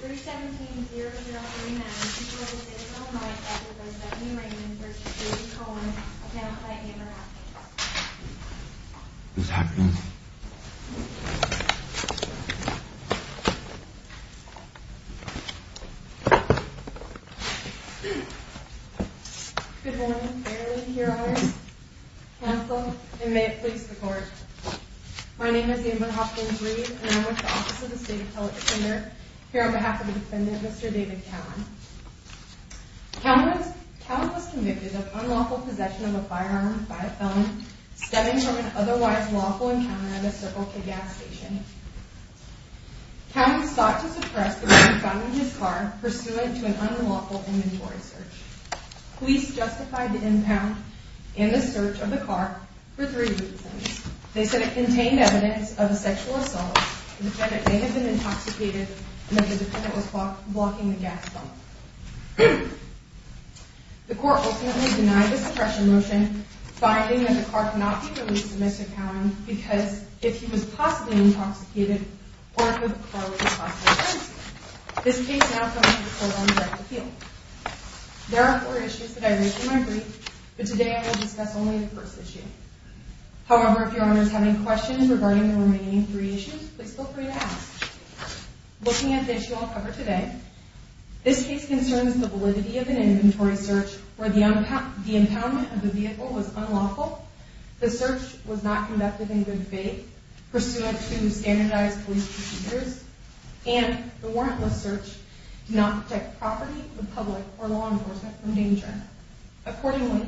317-0039, she's wearing a single night jacket by Stephanie Raymond v. David Cowan, announced by Amber Hopkins. What's happening? Good morning, Fairleigh, your honors, counsel, and may it please the court. My name is Amber Hopkins-Reed, and I'm with the Office of the State Appellate Defender. Here on behalf of the defendant, Mr. David Cowan, Cowan was convicted of unlawful possession of a firearm by a felon stemming from an otherwise lawful encounter at a Circle K gas station. Cowan was sought to suppress the man found in his car pursuant to an unlawful inventory search. Police justified the impound and the search of the car for three reasons. They said it contained evidence of a sexual assault, the defendant may have been intoxicated, and that the defendant was blocking the gas pump. The court ultimately denied the suppression motion, finding that the car could not be released to Mr. Cowan because, if he was possibly intoxicated, or if the car was a possible threat, this case now comes to the court on direct appeal. There are four issues that I raised in my brief, but today I will discuss only the first issue. First issue, please feel free to ask. Looking at the issue I'll cover today, this case concerns the validity of an inventory search where the impoundment of the vehicle was unlawful, the search was not conducted in good faith, pursuant to standardized police procedures, and the warrantless search did not protect property, the public, or law enforcement from danger. Accordingly,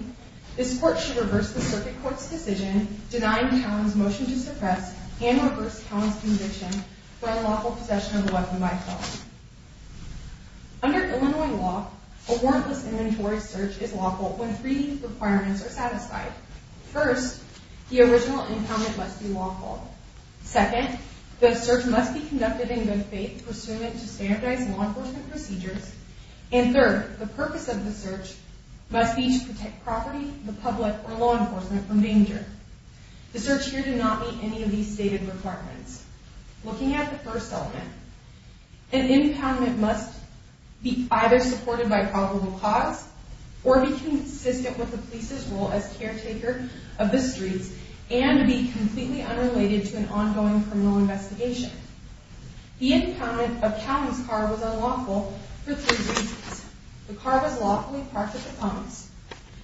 this court should reverse the Circuit Court's decision denying Cowan's motion to suppress and reverse Cowan's conviction for unlawful possession of a weapon by a felon. Under Illinois law, a warrantless inventory search is lawful when three requirements are satisfied. First, the original impoundment must be lawful. Second, the search must be conducted in good faith, pursuant to standardized law enforcement procedures. And third, the purpose of the search must be to protect property, the public, or law enforcement from danger. The search here did not meet any of these stated requirements. Looking at the first element, an impoundment must be either supported by probable cause, or be consistent with the police's role as caretaker of the streets, and be completely unrelated to an ongoing criminal investigation. The impoundment of Cowan's car was unlawful for three reasons. The car was lawfully parked at the Thomas.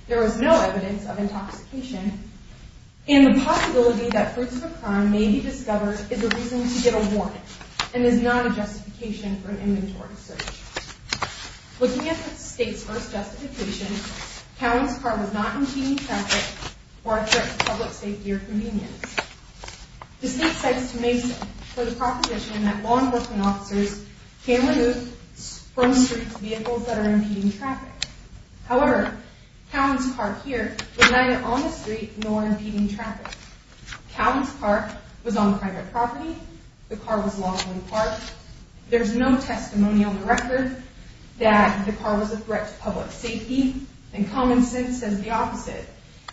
There was no evidence of intoxication. And the possibility that fruits of a crime may be discovered is a reason to get a warrant, and is not a justification for an inventory search. Looking at the state's first justification, Cowan's car was not impeding traffic or a threat to public safety or convenience. The state cites to Mason for the proposition that law enforcement officers can remove from streets vehicles that are impeding traffic. However, Cowan's car here was neither on the street nor impeding traffic. Cowan's car was on private property. The car was lawfully parked. There's no testimony on the record that the car was a threat to public safety. And common sense says the opposite.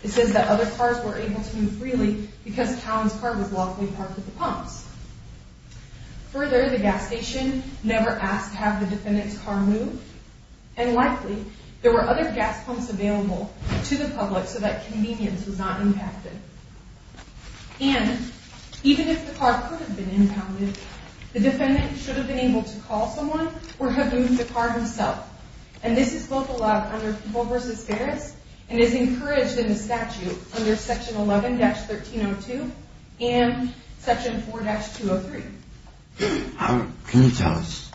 It says that other cars were able to move freely because Cowan's car was lawfully parked at the Thomas. Further, the gas station never asked to have the defendant's car moved. And likely, there were other gas pumps available to the public so that convenience was not impacted. And, even if the car could have been impounded, the defendant should have been able to call someone or have moved the car himself. And this is both allowed under People v. Ferris and is encouraged in the statute under Section 11-1302 and Section 4-203. Can you tell us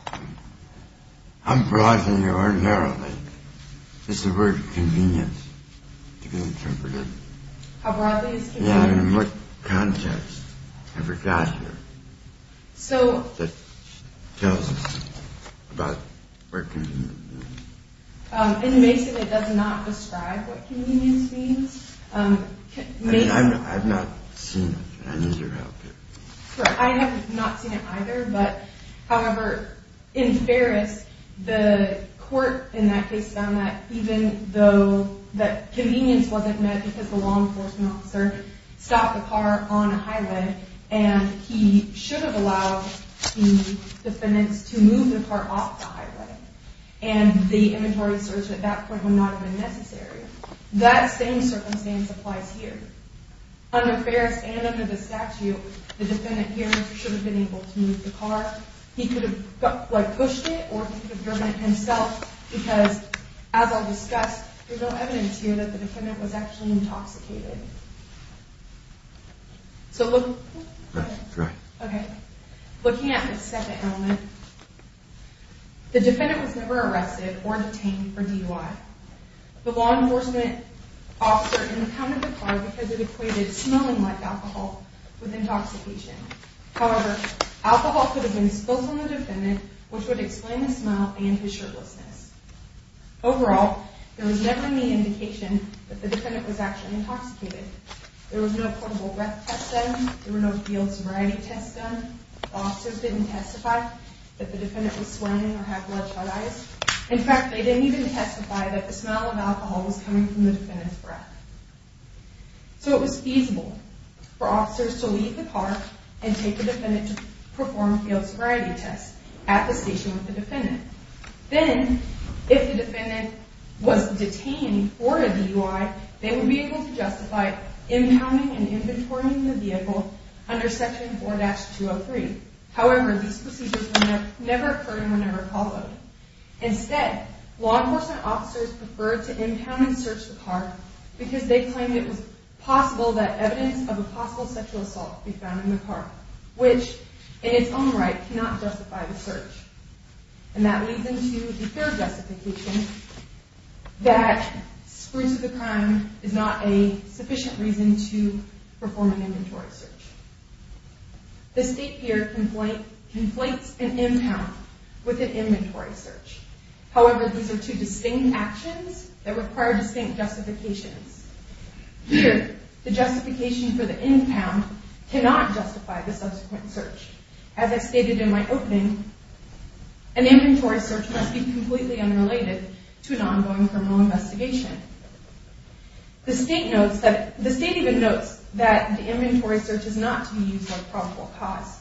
how broad and ordinarily is the word convenience to be interpreted? How broadly is convenience? Yeah, and what context have we got here that tells us about what convenience means? It basically does not describe what convenience means. I mean, I've not seen it. I need your help here. I have not seen it either, but, however, in Ferris, the court in that case found that even though that convenience wasn't met because the law enforcement officer stopped the car on a highway and he should have allowed the defendant to move the car off the highway and the inventory search at that point would not have been necessary. That same circumstance applies here. Under Ferris and under the statute, the defendant here should have been able to move the car. He could have pushed it or he could have driven it himself because, as I'll discuss, there's no evidence here that the defendant was actually intoxicated. Looking at the second element, the defendant was never arrested or detained for DUI. The law enforcement officer impounded the car because it equated smelling like alcohol with intoxication. However, alcohol could have been spilt on the defendant which would explain the smell and his shirtlessness. Overall, there was never any indication that the defendant was actually intoxicated. There was no portable breath test done. There were no field sobriety tests done. Officers didn't testify that the defendant was sweating or had bloodshot eyes. In fact, they didn't even testify that the smell of alcohol was coming from the defendant's breath. So it was feasible for officers to leave the car and take the defendant to perform field sobriety tests at the station with the defendant. Then, if the defendant was detained for DUI, they would be able to justify impounding and inventorying the vehicle under Section 4-203. However, these procedures never occurred in whenever followed. Instead, law enforcement officers preferred to impound and search the car because they claimed it was possible that evidence of a possible sexual assault could be found in the car, which in its own right cannot justify the search. And that leads into the third justification that spruce of the crime is not a sufficient reason to perform an inventory search. The state here conflates an impound with an inventory search. However, these are two distinct actions that require distinct justifications. The justification for the impound cannot justify the subsequent search. As I stated in my opening, an inventory search must be completely unrelated to an ongoing criminal investigation. The state even notes that the inventory search is not to be used as a probable cause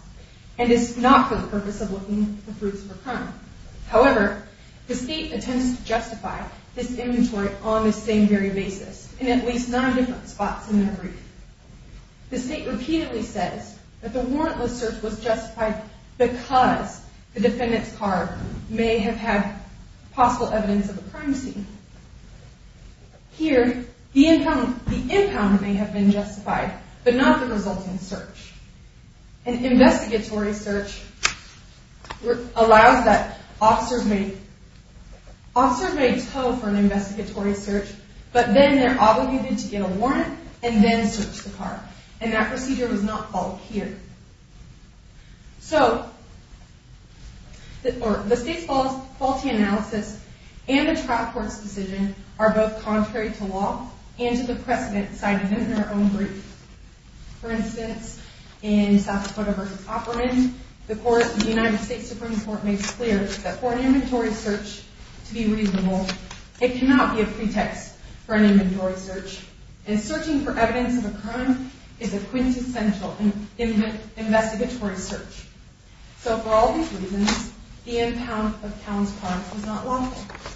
and is not for the purpose of looking for proofs for crime. However, the state attempts to justify this inventory on the same very basis in at least nine different spots in their brief. The state repeatedly says that the warrantless search was justified because the defendant's car may have had possible evidence of a crime scene. Here, the impound may have been justified, but not the resulting search. An investigatory search allows that officers may tow for an investigatory search, but then they're obligated to get a warrant and then search the car, and that procedure was not followed here. So, the state's faulty analysis and the trial court's decision are both contrary to law and to the precedent cited in their own brief. For instance, in South Dakota v. Opperman, the court of the United States Supreme Court makes clear that for an inventory search to be reasonable, it cannot be a pretext for an inventory search, and searching for evidence of a crime is a quintessential investigatory search. So, for all these reasons, the impound of Calum's car was not lawful.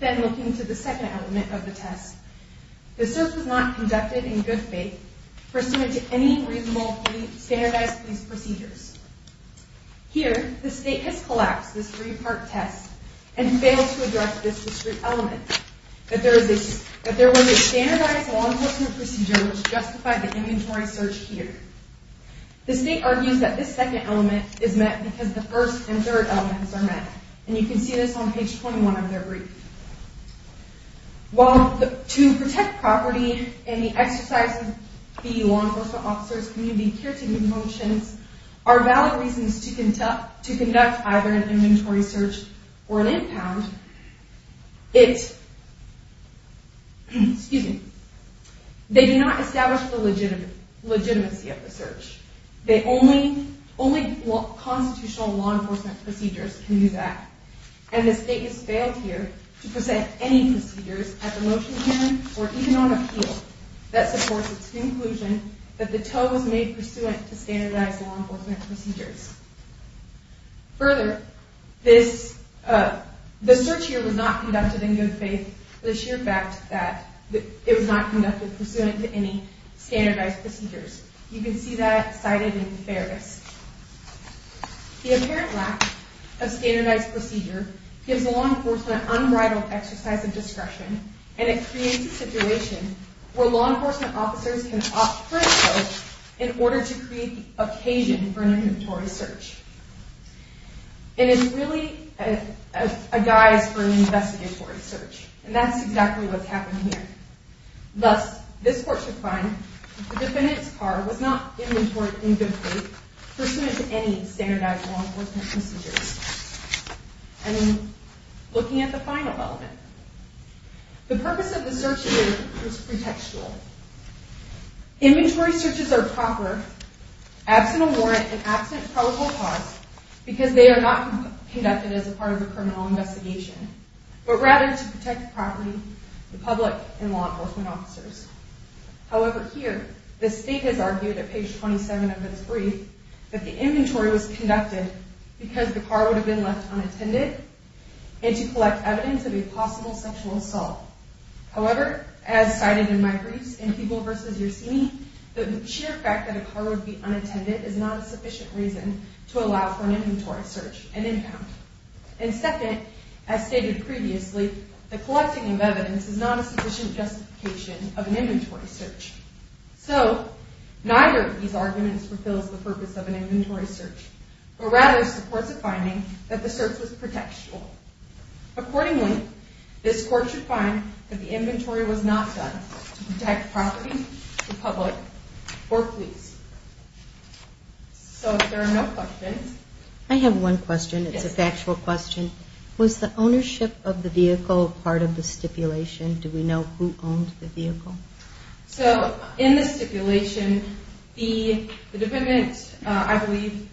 Then, looking to the second element of the test, the search was not conducted in good faith pursuant to any reasonable standardized police procedures. Here, the state has collapsed this three-part test and failed to address this discrete element, that there was a standardized law enforcement procedure which justified the inventory search here. The state argues that this second element is met because the first and third elements are met, and you can see this on page 21 of their brief. While to protect property and the exercises of the law enforcement officers' community peer-to-peer functions are valid reasons to conduct either an inventory search or an impound, it... excuse me... they do not establish the legitimacy of the search. Only constitutional law enforcement procedures can do that, and the state has failed here to present any procedures at the motion hearing or even on appeal that supports its conclusion that the tow was made pursuant to standardized law enforcement procedures. Further, this... the search here was not conducted in good faith for the sheer fact that it was not conducted pursuant to any standardized procedures. You can see that cited in the Fairness. The apparent lack of standardized procedure gives law enforcement unbridled exercise of discretion and it creates a situation where law enforcement officers can opt for a tow in order to create the occasion for an inventory search. It is really a guise for an investigatory search, and that's exactly what's happened here. Thus, this court should find that the defendant's car was not inventoryed in good faith pursuant to any standardized law enforcement procedures. And looking at the final element, the purpose of the search here is pretextual. Inventory searches are proper absent a warrant and absent probable cause because they are not conducted as a part of a criminal investigation, but rather to protect the property, the public, and law enforcement officers. However, here, the state has argued at page 27 of its brief that the inventory was conducted because the car would have been left unattended and to collect evidence of a possible sexual assault. However, as cited in my briefs in People v. Yersini, the sheer fact that a car would be unattended is not a sufficient reason to allow for an inventory search and impound. And second, as stated previously, the collecting of evidence is not a sufficient justification of an inventory search. So, neither of these arguments fulfills the purpose of an inventory search, but rather supports a finding that the search was pretextual. Accordingly, this court should find that the inventory was not done to protect property, the public, or police. So if there are no questions... I have one question. It's a factual question. Was the ownership of the vehicle part of the stipulation? Do we know who owned the vehicle? So, in the stipulation, the defendant, I believe,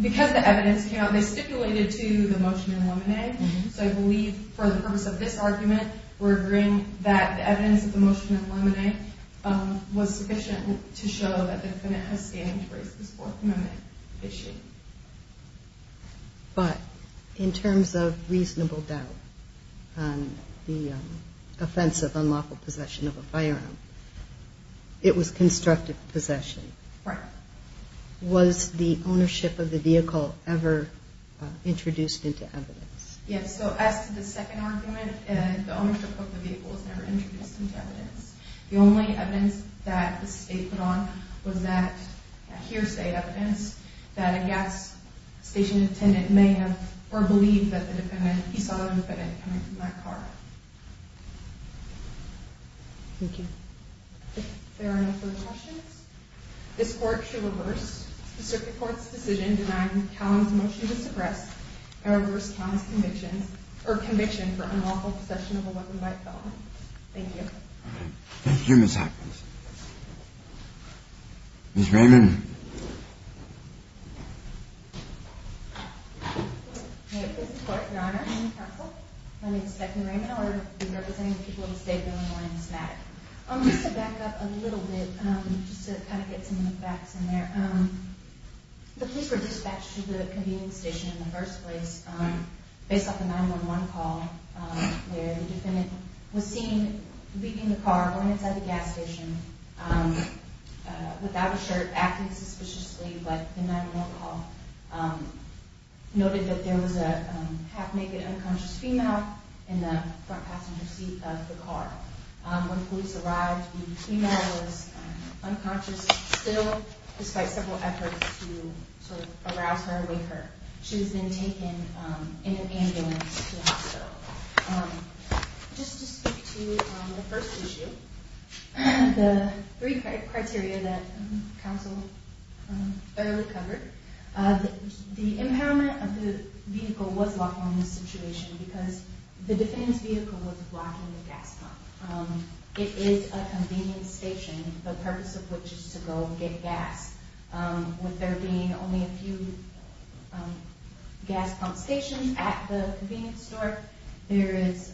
because the evidence came out, they stipulated to the motion in Lemonet, so I believe for the purpose of this argument, we're agreeing that the evidence of the motion in Lemonet was sufficient to show that the defendant has standing to raise this Fourth Amendment issue. But, in terms of reasonable doubt on the offense of unlawful possession of a firearm, it was constructive possession. Right. Was the ownership of the vehicle ever introduced into evidence? Yes, so as to the second argument, the ownership of the vehicle was never introduced into evidence. The only evidence that the state put on was that hearsay evidence that a gas station attendant may have or believed that he saw the defendant coming from that car. Thank you. If there are no further questions, this Court shall reverse the Circuit Court's decision denying Callan's motion to suppress and reverse Callan's conviction for unlawful possession of a weapon by Callan. Thank you. Thank you, Ms. Hopkins. Ms. Raymond. This is Court, Your Honor. I'm counsel. My name is Becky Raymond. I'll be representing the people of the state during the morning semantic. Just to back up a little bit, just to kind of get some facts in there, the police were dispatched to the convenience station in the first place based off a 911 call where the defendant was seen leaving the car going inside the gas station without a shirt, acting suspiciously, but the 911 call noted that there was a half-naked, unconscious female in the front passenger seat of the car. When police arrived, the female was unconscious still despite several efforts to sort of arouse or awake her. She was then taken in an ambulance to a hospital. Just to speak to the first issue, the three criteria that counsel early covered, the impairment of the vehicle was locked on in this situation because the defendant's vehicle was blocking the gas pump. It is a convenience station, the purpose of which is to go get gas. With there being only a few gas pump stations at the convenience store, it's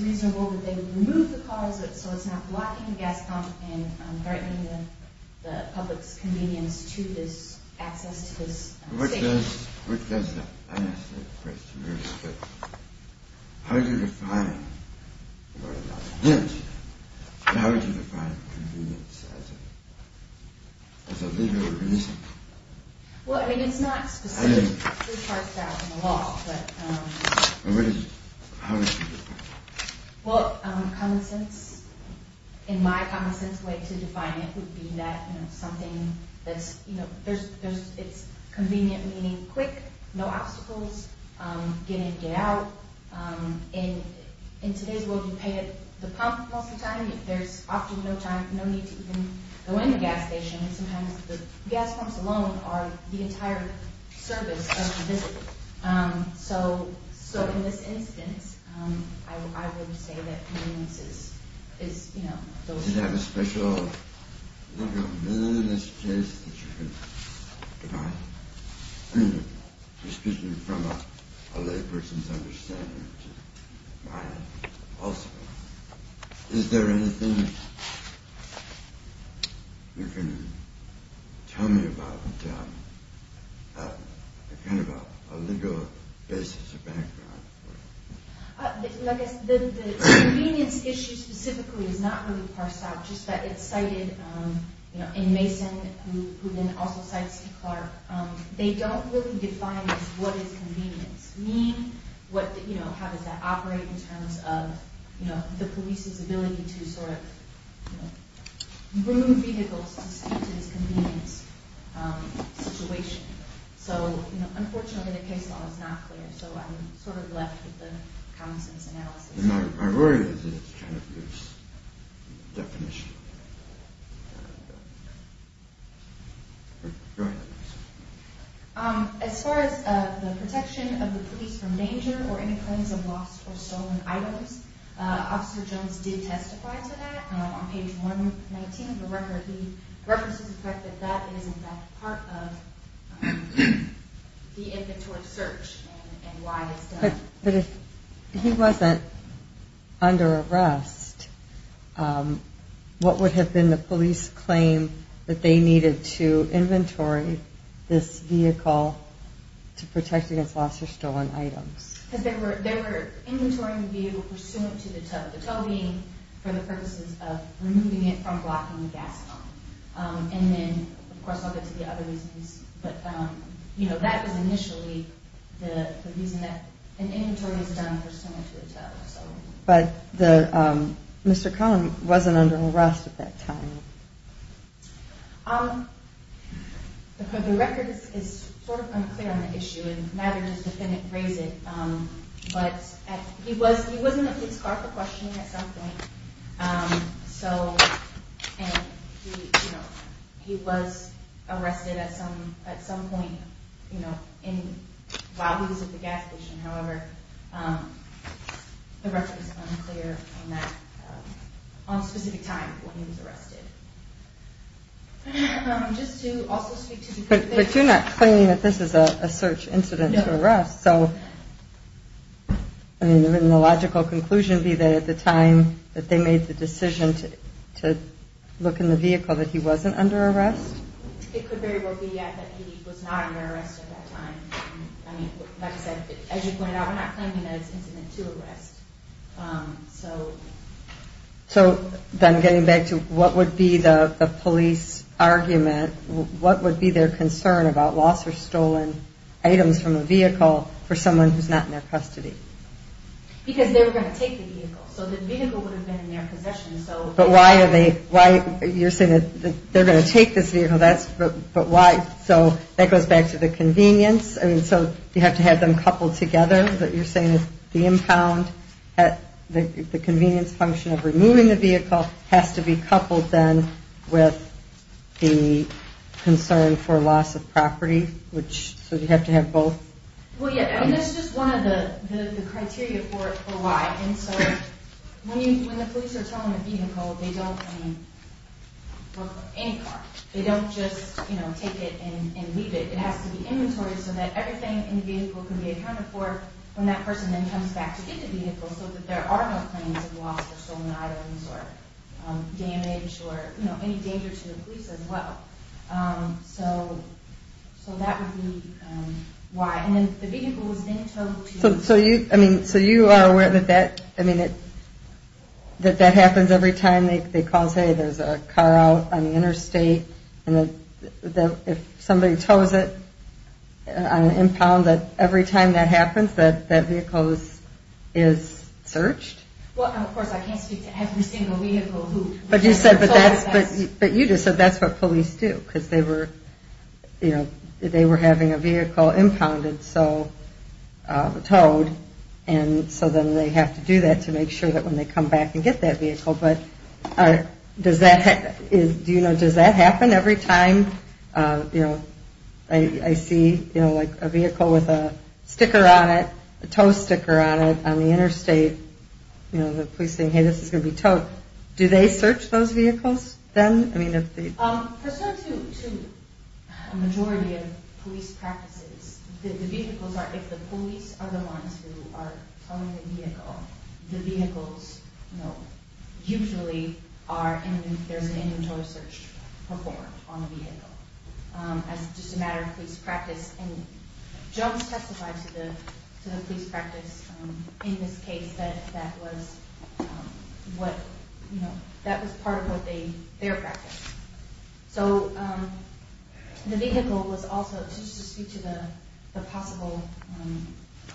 reasonable that they would remove the calls so it's not blocking the gas pump and threatening the public's convenience to this access to this station. What does that answer the question? How do you define what an accident is? How would you define convenience as a legal reason? Well, I mean, it's not specific. How would you define it? Well, common sense, in my common sense way to define it would be that it's convenient, meaning quick, no obstacles, get in, get out. In today's world, you pay at the pump most of the time. There's often no need to even go in the gas station. Sometimes the gas pumps alone are the entire service of the visit. So in this instance, I would say that convenience is, you know... Does it have a special, a momentous place that you can define? Excuse me, from a lay person's understanding to mine also. Is there anything you can tell me about a kind of a legal basis or background? Like I said, the convenience issue specifically is not really parsed out. Just that it's cited, you know, and also cites C. Clarke. They don't really define what is convenience. How does that operate in terms of the police's ability to sort of groom vehicles to speak to this convenience situation. Unfortunately, the case law is not clear, so I'm sort of left with the common sense analysis. My worry is it's kind of a fierce definition. Go ahead. As far as the protection of the police from danger or any claims of lost or stolen items, Officer Jones did testify to that on page 119 of the record. He references the fact that that is in fact part of the inventory search and why it's done. But if he wasn't under arrest, what would have been the police claim that they needed to inventory this vehicle to protect against lost or stolen items? They were inventorying the vehicle pursuant to the T.U.V. The T.U.V. for the purposes of removing it from blocking the gas pump. And then, of course, I'll get to the other reasons, but that was initially pursuant to the T.U.V. But Mr. Conlon wasn't under arrest at that time. The record is sort of unclear on the issue and neither does the defendant raise it, but he was in a police car for questioning at some point and he was arrested at some point while he was at the gas station. However, the record is unclear on a specific time when he was arrested. But you're not claiming that this is a search incident to arrest, so would the logical conclusion be that at the time that they made the decision to look in the vehicle that he wasn't under arrest? It could very well be that he was not under arrest at that time. As you pointed out, we're not claiming that it's an incident to arrest. So then getting back to what would be the police argument, what would be their concern about lost or stolen items from a vehicle for someone who's not in their custody? Because they were going to take the vehicle. So the vehicle would have been in their possession. You're saying that they're going to take this vehicle. So that goes back to the convenience. So you have to have them coupled together? You're saying that the impound, the convenience function of removing the vehicle has to be coupled then with the concern for loss of property? So you have to have both? That's just one of the criteria for why. When the police are telling a vehicle they don't, I mean, look for any car. They don't just take it and leave it. It has to be inventory so that everything in the vehicle can be accounted for when that person then comes back to get the vehicle so that there are no claims of lost or stolen items or damage or any danger to the police as well. So that would be why. And then the vehicle was then towed So you are aware that that happens every time they call, hey, there's a car out on the interstate and if somebody tows it on an impound every time that happens that vehicle is searched? Well, of course, I can't speak to every single vehicle. But you just said that's what police do because they were having a vehicle impounded so towed and so then they have to do that to make sure that when they come back and get that vehicle but does that happen every time I see a vehicle with a sticker on it, a tow sticker on it on the interstate the police say, hey, this is going to be towed do they search those vehicles then? To a majority of police practices the vehicles are if the police are the ones who are towing the vehicle the vehicles usually are, there's an inventory search performed on the vehicle as just a matter of police practice and Jones testified to the police practice in this case that that was that was part of their practice so the vehicle was also just to speak to the possible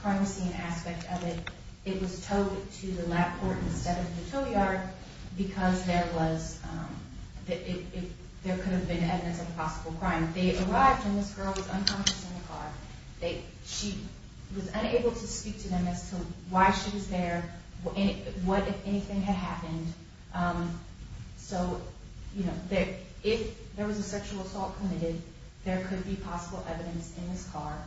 crime scene aspect of it, it was towed to the lab court instead of the tow yard because there was there could have been evidence of a possible crime they arrived and this girl was unconscious in the car she was unable to speak to them as to why she was there what if anything had happened so if if there was a sexual assault committed there could be possible evidence in this car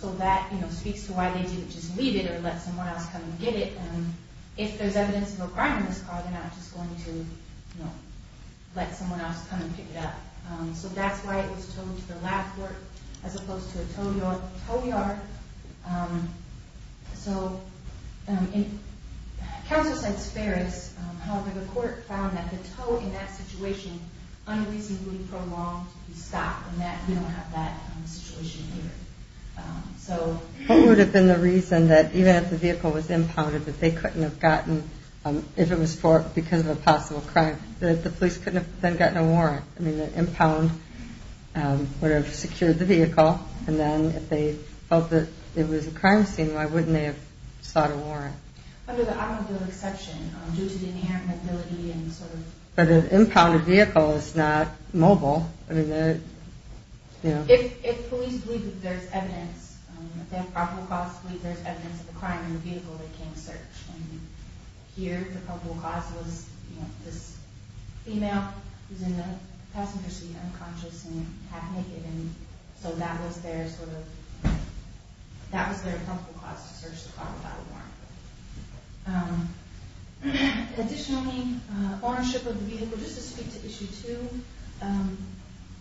so that speaks to why they didn't just leave it or let someone else come and get it if there's evidence of a crime in this car they're not just going to let someone else come and pick it up so that's why it was towed to the lab court as opposed to a tow yard so counsel said it's fair, however the court found that the tow in that situation unreasonably prolonged the stop and we don't have that situation here what would have been the reason that even if the vehicle was impounded that they couldn't have gotten if it was because of a possible crime that the police couldn't have gotten a warrant the impound would have secured the vehicle and then if they felt it was a crime scene why wouldn't they have sought a warrant under the automobile exception due to the inherent mobility but an impounded vehicle is not mobile if police believe there's evidence if they have probable cause to believe there's evidence of a crime in the vehicle they can't search here the probable cause was this female who was in the passenger seat unconscious and half naked so that was their probable cause to search the car without a warrant additionally ownership of the vehicle just to speak to issue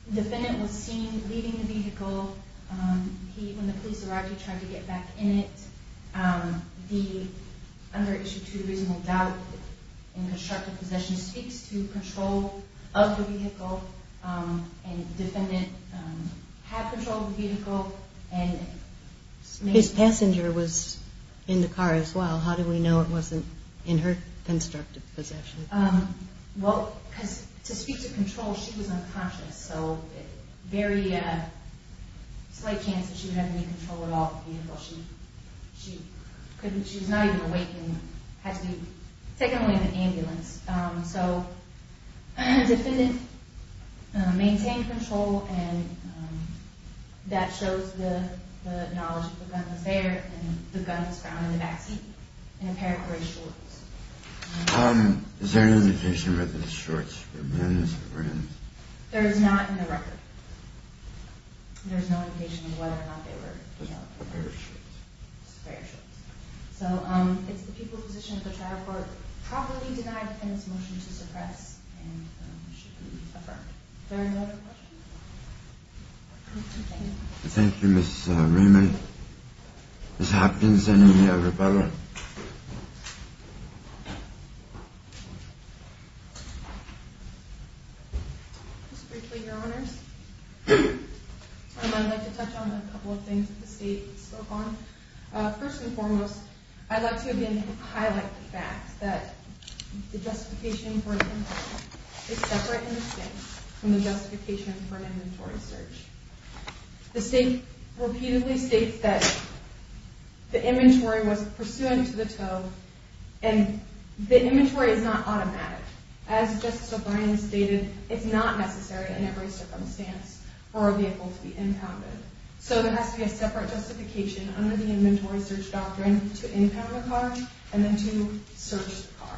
2 defendant was seen leaving the vehicle when the police arrived he tried to get back in it under issue 2 reasonable doubt in constructive possession speaks to control of the vehicle and defendant had control of the vehicle his passenger was in the car as well how do we know it wasn't in her constructive possession to speak to control she was unconscious slight chance she would have any control she was not even awake had to be taken away in an ambulance so defendant maintained control that shows the knowledge the gun was there and the gun was found in the back seat in a pair of gray shorts is there an indication whether the shorts were men or women there is not in the record there is no indication of whether or not they were a pair of shorts it's the people's position that the trial court properly denied the defendant's motion to suppress thank you Ms. Raymond Ms. Hopkins any other questions just briefly your honors I'd like to touch on a couple of things that the state spoke on first and foremost I'd like to again highlight the fact that the justification for an impoundment is separate from the justification for an inventory search the state repeatedly states that the inventory was pursuant to the tow and the inventory is not automatic as Justice O'Brien stated it's not necessary in every circumstance for a vehicle to be impounded so there has to be a separate justification under the inventory search doctrine to impound the car and then to search the car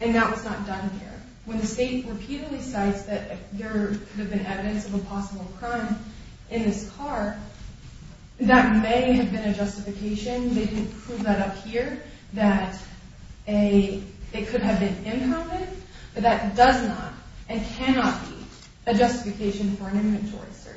and that was not done here when the state repeatedly cites that there could have been evidence of a possible crime in this car that may have been a justification they didn't prove that up here that it could have been impounded but that does not and cannot be a justification for an inventory search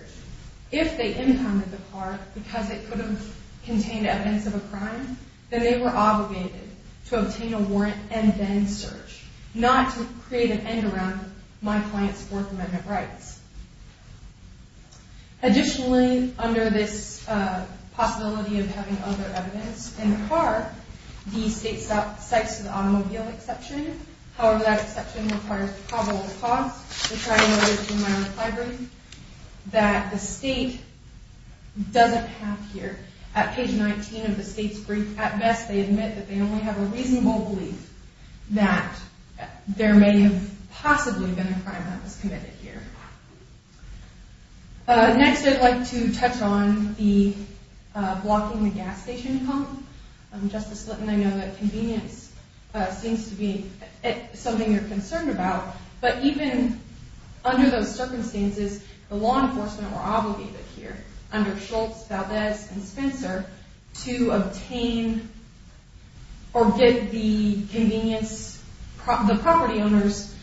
if they impounded the car because it could have contained evidence of a crime then they were obligated to obtain a warrant and then search not to create an end around my client's work amendment rights additionally under this possibility of having other evidence in the car the state cites an automobile exception however that exception requires probable cause which I noted in my reply brief that the state doesn't have here at page 19 of the state's brief at best they admit that they only have a reasonable belief that there may have possibly been a crime that was committed here next I'd like to touch on the blocking the gas station pump Justice Slitton I know that convenience seems to be something you're concerned about but even under those circumstances the law enforcement were obligated here under Schultz Valdez and Spencer to obtain or get the convenience the property owners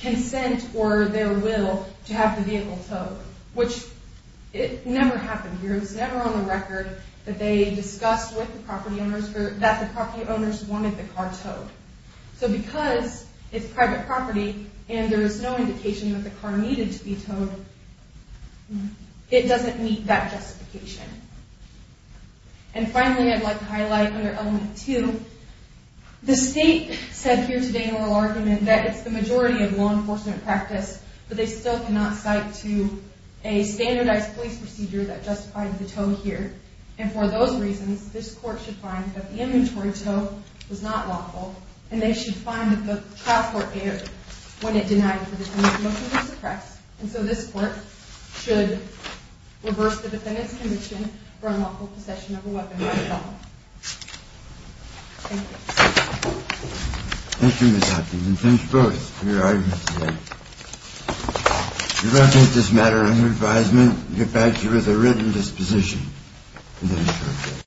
consent or their will to have the vehicle towed which it never happened here it was never on the record that they discussed with the property owners that the property owners wanted the car towed so because it's private property and there is no indication that the car needed to be towed it doesn't meet that justification and finally I'd like to highlight under element 2 the state said here today in a little argument that it's the majority of law enforcement practice but they still cannot cite to a standardized police procedure that justified the tow here and for those reasons this court should find that the ambulatory tow was not lawful and they should find that the trial court erred when it denied the motion to suppress and so this court should reverse the defendant's conviction for unlawful possession of a weapon by default Thank you Thank you Ms. Hopkins and thanks both for your arguments today We will take this matter under advisement and get back to you with a written disposition